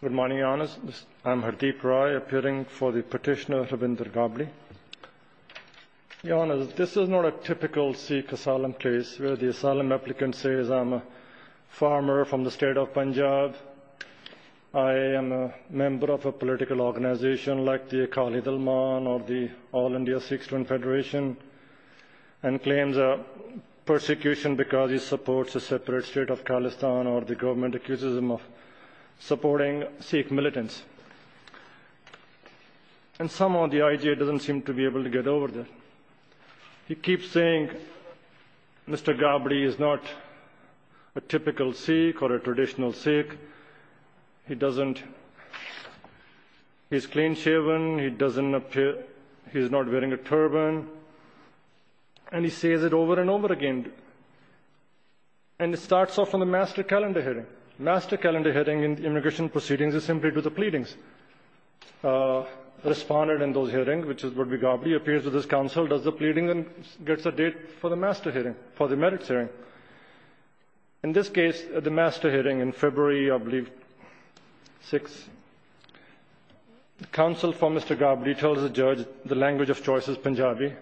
Good morning, Your Honours. I'm Hardeep Rai, appearing for the petitioner Rabindranath Gabri. Your Honours, this is not a typical Sikh asylum case, where the asylum applicant says, I'm a farmer from the state of Punjab, I am a member of a political organisation like the Akali Dalman or the All India Sikh Student Federation, and claims a persecution because he supports a separate state of Khalistan or the government accuses him of supporting Sikh militants. And somehow the IJ doesn't seem to be able to get over that. He keeps saying, Mr. Gabri is not a typical Sikh or a traditional Sikh. He's clean shaven, he's not wearing a turban, and he says it over and over again. And it starts off on the master calendar hearing. Master calendar hearing in immigration proceedings is simply to do the pleadings. Respondent in those hearings, which is Rabindranath Gabri, appears with his counsel, does the pleading and gets a date for the master hearing, for the merits hearing. In this case, the master hearing in February, I believe, 6, the counsel for Mr. Gabri tells the judge the language of choice is Punjabi.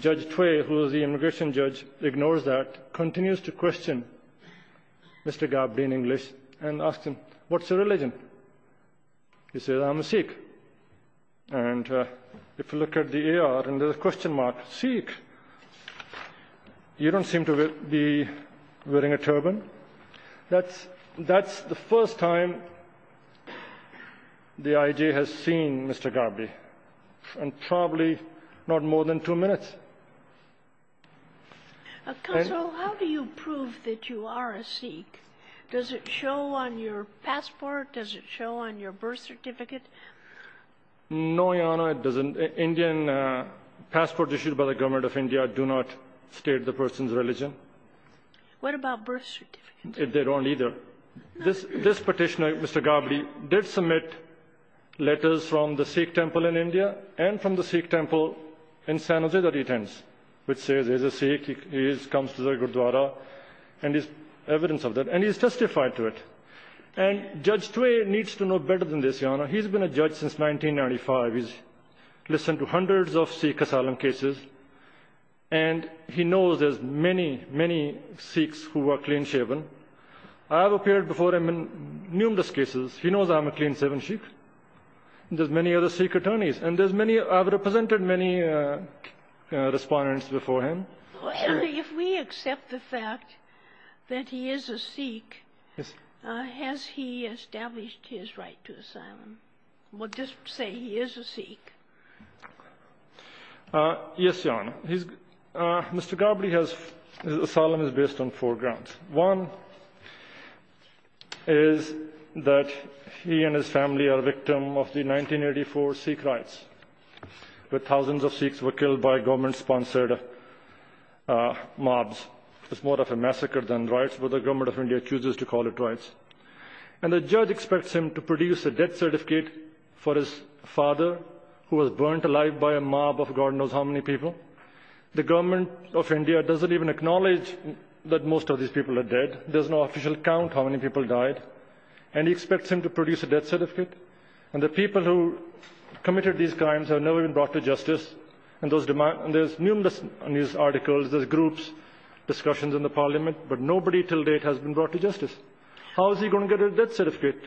Judge Tway, who is the immigration judge, ignores that, continues to question Mr. Gabri in English and asks him, what's your religion? He says, I'm a Sikh. And if you look at the AR and there's a question mark, Sikh. You don't seem to be wearing a turban. That's the first time the IJ has seen Mr. Gabri. And probably not more than two minutes. How do you prove that you are a Sikh? Does it show on your passport? Does it show on your birth certificate? No, Your Honor, it doesn't. Indian passports issued by the government of India do not state the person's religion. What about birth certificates? They don't either. This petitioner, Mr. Gabri, did submit letters from the Sikh temple in India and from the Sikh temple in San Jose that he attends, which says there's a Sikh, he comes to the Gurdwara and there's evidence of that, and he's testified to it. And Judge Tway needs to know better than this, Your Honor. He's been a judge since 1995. He's listened to hundreds of Sikh asylum cases, and he knows there's many, many Sikhs who are clean-shaven. I have appeared before him in numerous cases. He knows I'm a clean-shaven Sikh. And there's many other Sikh attorneys. And I've represented many respondents before him. If we accept the fact that he is a Sikh, has he established his right to asylum? We'll just say he is a Sikh. Yes, Your Honor. Mr. Gabri's asylum is based on four grounds. One is that he and his family are victims of the 1984 Sikh riots, where thousands of Sikhs were killed by government-sponsored mobs. It's more of a massacre than riots, but the government of India chooses to call it riots. And the judge expects him to produce a death certificate for his father, who was burned alive by a mob of God knows how many people. The government of India doesn't even acknowledge that most of these people are dead. There's no official count how many people died. And he expects him to produce a death certificate. And the people who committed these crimes have never been brought to justice. And there's numerous news articles, there's groups, discussions in the parliament, but nobody till date has been brought to justice. How is he going to get a death certificate?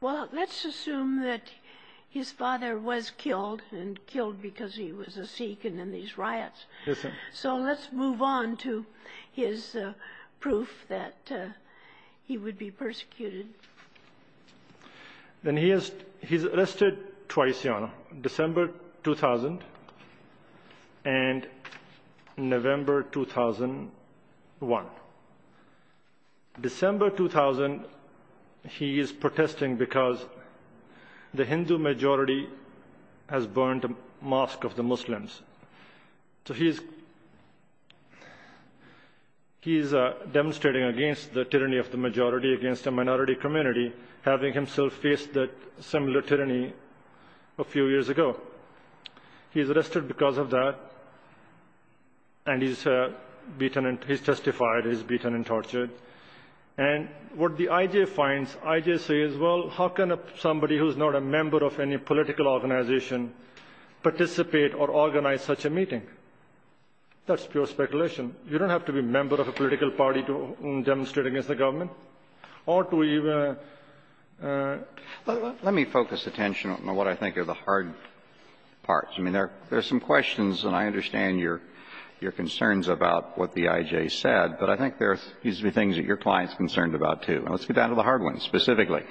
Well, let's assume that his father was killed, and killed because he was a Sikh and in these riots. So let's move on to his proof that he would be persecuted. Then he is arrested twice, Your Honor, December 2000 and November 2001. December 2000, he is protesting because the Hindu majority has burned a mosque of the Muslims. So he is demonstrating against the tyranny of the majority against the minority community, having himself faced that similar tyranny a few years ago. He's arrested because of that. And he's beaten and he's testified he's beaten and tortured. And what the IJ finds, IJ says, well, how can somebody who's not a member of any political organization participate or organize such a meeting? That's pure speculation. You don't have to be a member of a political party to demonstrate against the government. Let me focus attention on what I think are the hard parts. I mean, there are some questions, and I understand your concerns about what the IJ said, but I think there are things that your client is concerned about, too. And let's get down to the hard ones, specifically.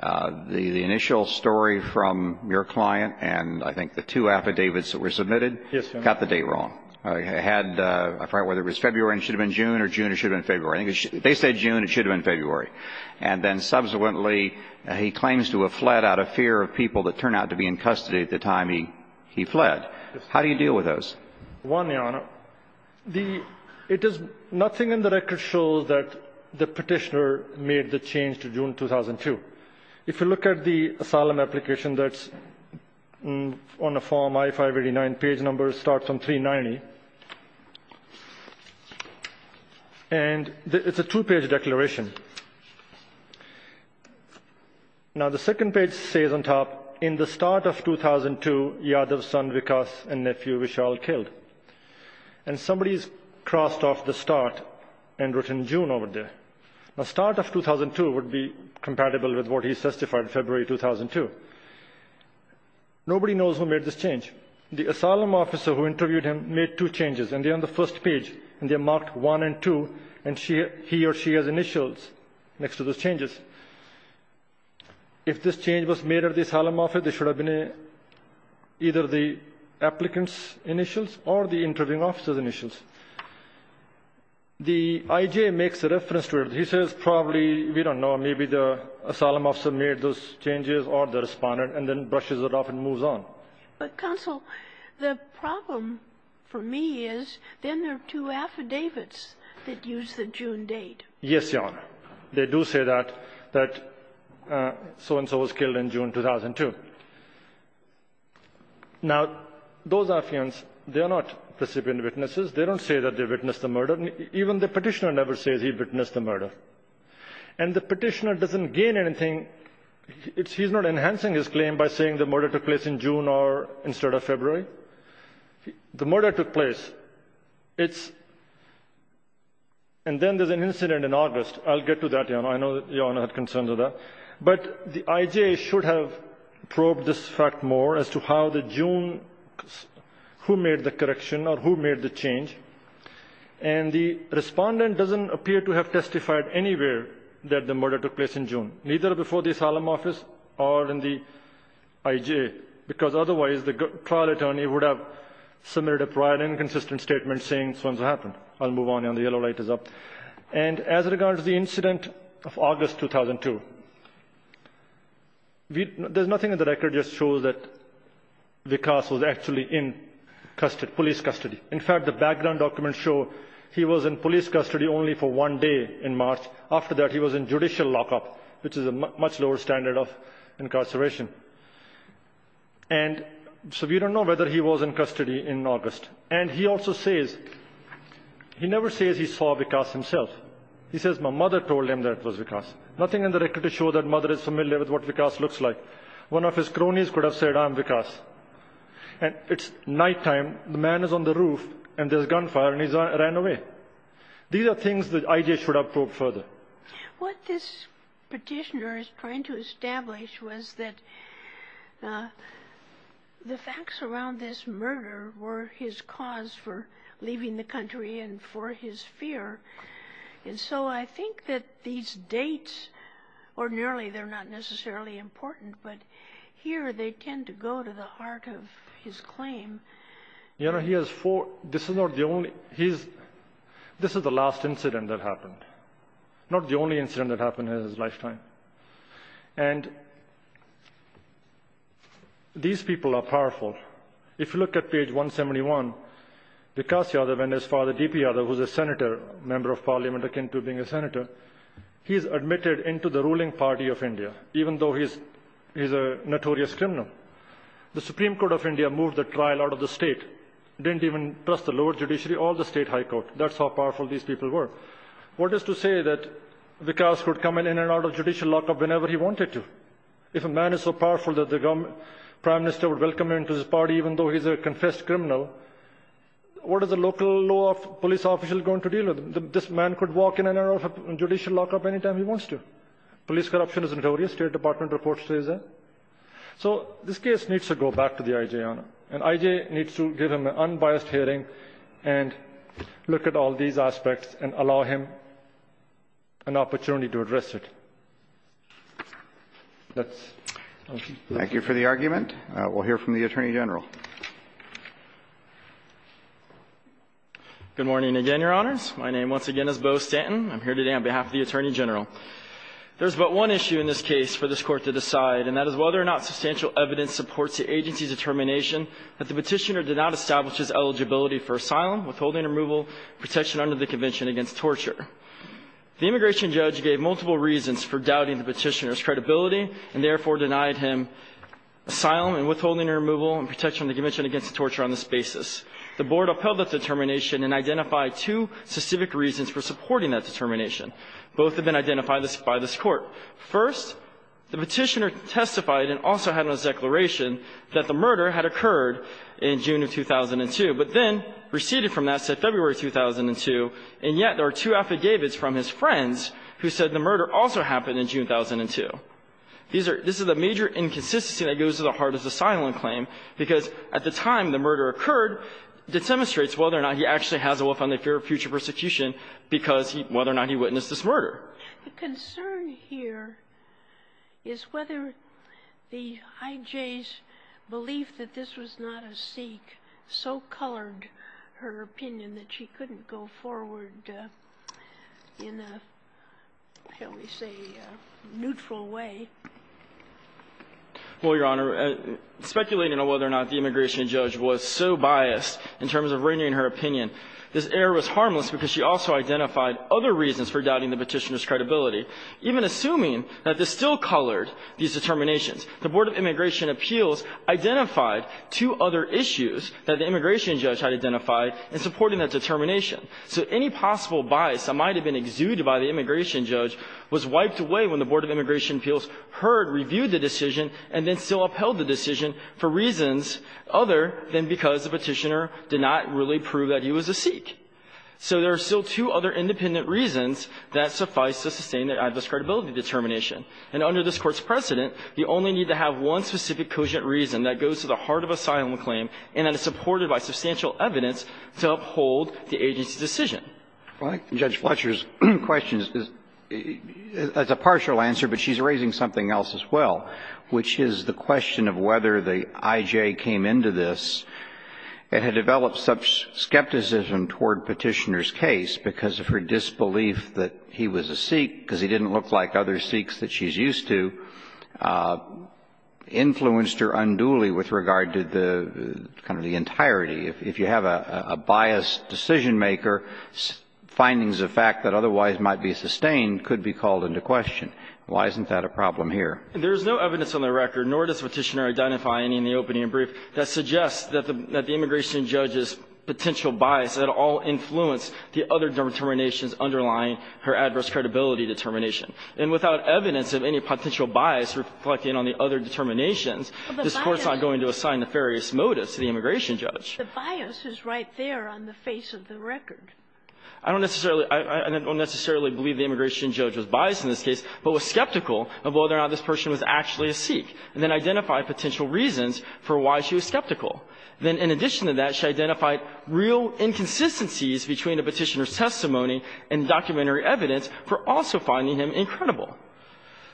The initial story from your client and I think the two affidavits that were submitted got the date wrong. Whether it was February and it should have been June or June and it should have been February. They said June. It should have been February. And then subsequently he claims to have fled out of fear of people that turned out to be in custody at the time he fled. How do you deal with those? One, Your Honor, it is nothing in the record shows that the petitioner made the change to June 2002. If you look at the asylum application that's on the form I-589, page number starts on 390, and it's a two-page declaration. Now, the second page says on top, in the start of 2002, Yadav's son Vikas and nephew Vishal killed. And somebody has crossed off the start and written June over there. The start of 2002 would be compatible with what he testified in February 2002. Nobody knows who made this change. The asylum officer who interviewed him made two changes, and they're on the first page, and they're marked 1 and 2, and he or she has initials next to those changes. If this change was made at the asylum office, it should have been either the applicant's initials or the interviewing officer's initials. The IJ makes a reference to it. He says probably, we don't know, maybe the asylum officer made those changes or the respondent, and then brushes it off and moves on. But, counsel, the problem for me is then there are two affidavits that use the June date. Yes, Your Honor. They do say that, that so-and-so was killed in June 2002. Now, those affidavits, they are not recipient witnesses. They don't say that they witnessed the murder. Even the Petitioner never says he witnessed the murder. And the Petitioner doesn't gain anything. He's not enhancing his claim by saying the murder took place in June instead of February. The murder took place, and then there's an incident in August. I'll get to that, Your Honor. I know that Your Honor had concerns with that. But the IJ should have probed this fact more as to how the June, who made the correction or who made the change. And the respondent doesn't appear to have testified anywhere that the murder took place in June, neither before the Asylum Office or in the IJ, because otherwise the trial attorney would have submitted a prior inconsistent statement saying so-and-so happened. I'll move on, Your Honor. The yellow light is up. And as regards the incident of August 2002, there's nothing in the record that shows that Vikas was actually in police custody. In fact, the background documents show he was in police custody only for one day in March. After that, he was in judicial lockup, which is a much lower standard of incarceration. And so we don't know whether he was in custody in August. And he also says, he never says he saw Vikas himself. He says, my mother told him that it was Vikas. Nothing in the record to show that mother is familiar with what Vikas looks like. One of his cronies could have said, I'm Vikas. And it's nighttime, the man is on the roof, and there's gunfire, and he ran away. These are things that IJ should have probed further. What this petitioner is trying to establish was that the facts around this murder were his cause for leaving the country and for his fear. And so I think that these dates, ordinarily they're not necessarily important, but here they tend to go to the heart of his claim. This is the last incident that happened. Not the only incident that happened in his lifetime. And these people are powerful. If you look at page 171, Vikas Yadav and his father, D.P. Yadav, who's a senator, a member of parliament akin to being a senator, he's admitted into the ruling party of India, even though he's a notorious criminal. The Supreme Court of India moved the trial out of the state. Didn't even trust the lower judiciary or the state high court. That's how powerful these people were. What is to say that Vikas could come in and out of judicial lockup whenever he wanted to? If a man is so powerful that the prime minister would welcome him into his party, even though he's a confessed criminal, what is a local law police official going to deal with? This man could walk in and out of judicial lockup any time he wants to. Police corruption is notorious. State Department reports say that. So this case needs to go back to the I.J., Your Honor. And I.J. needs to give him an unbiased hearing and look at all these aspects and allow him an opportunity to address it. Let's proceed. Thank you for the argument. We'll hear from the Attorney General. Good morning again, Your Honors. My name once again is Bo Stanton. I'm here today on behalf of the Attorney General. There is but one issue in this case for this Court to decide, and that is whether or not substantial evidence supports the agency's determination that the petitioner did not establish his eligibility for asylum, withholding or removal, protection under the Convention against Torture. The immigration judge gave multiple reasons for doubting the petitioner's credibility and therefore denied him asylum and withholding or removal and protection under the Convention against Torture on this basis. The Board upheld that determination and identified two specific reasons for supporting that determination. Both have been identified by this Court. First, the petitioner testified and also had on his declaration that the murder had occurred in June of 2002, but then receded from that, said February of 2002, and yet there are two affidavits from his friends who said the murder also happened in June of 2002. These are – this is a major inconsistency that goes to the heart of the asylum claim, because at the time the murder occurred, it demonstrates whether or not he actually has a will found in the fear of future persecution because he – whether or not he witnessed this murder. The concern here is whether the IJ's belief that this was not a Sikh so colored her opinion that she couldn't go forward in a, how do we say, neutral way. Well, Your Honor, speculating on whether or not the immigration judge was so biased in terms of reining her opinion, this error was harmless because she also identified other reasons for doubting the petitioner's credibility. Even assuming that this still colored these determinations, the Board of Immigration Appeals identified two other issues that the immigration judge had identified in supporting that determination. So any possible bias that might have been exuded by the immigration judge was wiped away when the Board of Immigration Appeals heard, reviewed the decision, and then still upheld the decision for reasons other than because the petitioner did not really prove that he was a Sikh. So there are still two other independent reasons that suffice to sustain the adverse credibility determination. And under this Court's precedent, you only need to have one specific cogent reason that goes to the heart of asylum claim and that is supported by substantial evidence to uphold the agency's decision. Roberts. Well, I think Judge Fletcher's question is a partial answer, but she's raising something else as well, which is the question of whether the IJ came into this and had developed such skepticism toward Petitioner's case because of her disbelief that he was a Sikh because he didn't look like other Sikhs that she's used to, influenced her unduly with regard to the kind of the entirety. If you have a biased decision-maker, findings of fact that otherwise might be sustained could be called into question. Why isn't that a problem here? There is no evidence on the record, nor does Petitioner identify any in the opening and brief, that suggests that the immigration judge's potential bias at all influenced the other determinations underlying her adverse credibility determination. And without evidence of any potential bias reflecting on the other determinations, this Court's not going to assign nefarious motives to the immigration judge. But the bias is right there on the face of the record. I don't necessarily – I don't necessarily believe the immigration judge was biased in this case but was skeptical of whether or not this person was actually a Sikh and then identified potential reasons for why she was skeptical. Then in addition to that, she identified real inconsistencies between the Petitioner's testimony and documentary evidence for also finding him incredible.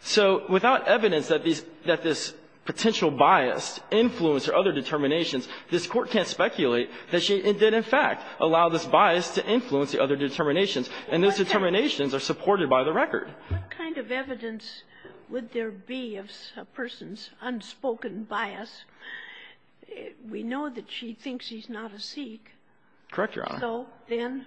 So without evidence that these – that this potential bias influenced her other determinations, this Court can't speculate that she did in fact allow this bias to influence the other determinations, and those determinations are supported by the record. What kind of evidence would there be of a person's unspoken bias? We know that she thinks he's not a Sikh. Correct, Your Honor. So then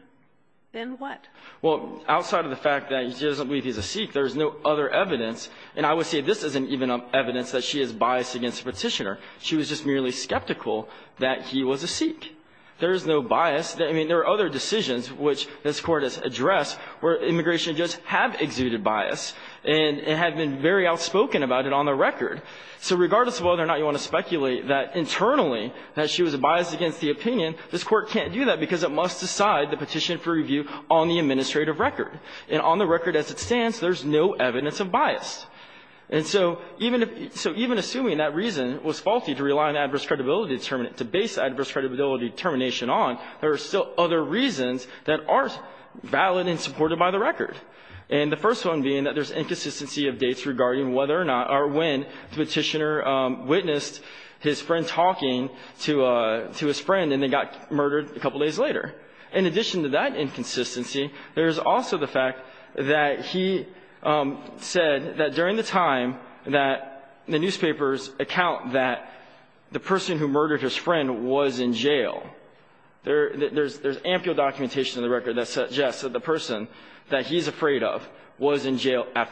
what? Well, outside of the fact that she doesn't believe he's a Sikh, there's no other evidence, and I would say this isn't even evidence that she is biased against Petitioner. She was just merely skeptical that he was a Sikh. There is no bias. I mean, there are other decisions which this Court has addressed where immigration judges have exuded bias and have been very outspoken about it on the record. So regardless of whether or not you want to speculate that internally that she was biased against the opinion, this Court can't do that because it must decide the petition for review on the administrative record. And on the record as it stands, there's no evidence of bias. And so even if – so even assuming that reason was faulty to rely on adverse credibility – to base adverse credibility determination on, there are still other reasons that are valid and supported by the record. And the first one being that there's inconsistency of dates regarding whether or not or when Petitioner witnessed his friend talking to his friend and then got murdered a couple days later. In addition to that inconsistency, there's also the fact that he said that during the time that the newspapers account that the person who murdered his friend was in jail at the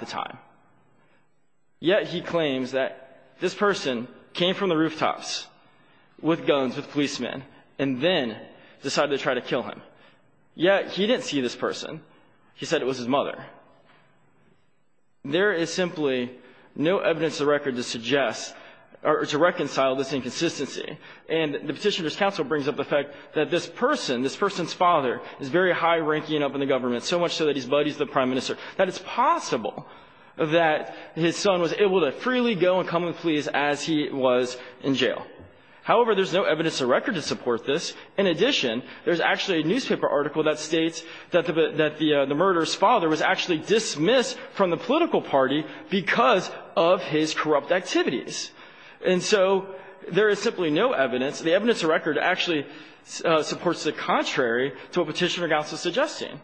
time. Yet he claims that this person came from the rooftops with guns, with policemen, and then decided to try to kill him. Yet he didn't see this person. He said it was his mother. There is simply no evidence of record to suggest or to reconcile this inconsistency. And the Petitioner's counsel brings up the fact that this person, this person's father, is very high-ranking up in the government, so much so that he's buddies with the prime minister, that it's possible that his son was able to freely go and come and please as he was in jail. However, there's no evidence of record to support this. In addition, there's actually a newspaper article that states that the murderer's father was actually dismissed from the political party because of his corrupt activities. And so there is simply no evidence. The evidence of record actually supports the contrary to what Petitioner's counsel is suggesting.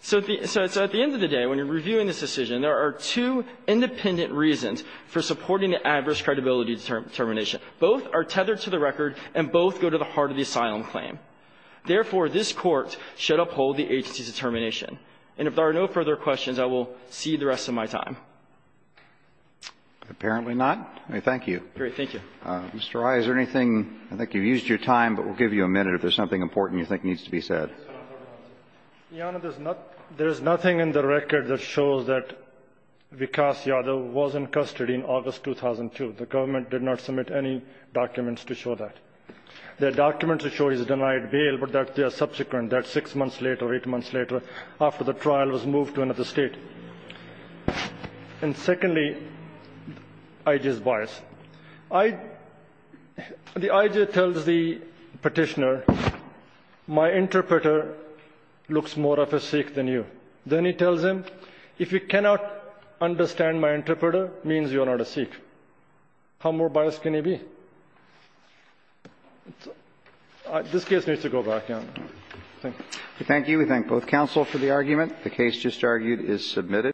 So at the end of the day, when you're reviewing this decision, there are two independent reasons for supporting the adverse credibility determination. Both are tethered to the record, and both go to the heart of the asylum claim. Therefore, this Court should uphold the agency's determination. And if there are no further questions, I will cede the rest of my time. Apparently not. Thank you. Thank you. Mr. Rai, is there anything? I think you've used your time, but we'll give you a minute if there's something important you think needs to be said. Your Honor, there's nothing in the record that shows that Vikas Yadav was in custody in August 2002. The government did not submit any documents to show that. The documents show he's denied bail, but that they are subsequent, that six months later, eight months later, after the trial, was moved to another state. And secondly, IG's bias. The IG tells the Petitioner, my interpreter looks more of a Sikh than you. Then he tells him, if you cannot understand my interpreter, means you are not a Sikh. How more biased can he be? This case needs to go back, Your Honor. Thank you. Thank you. We thank both counsel for the argument. The case just argued is submitted.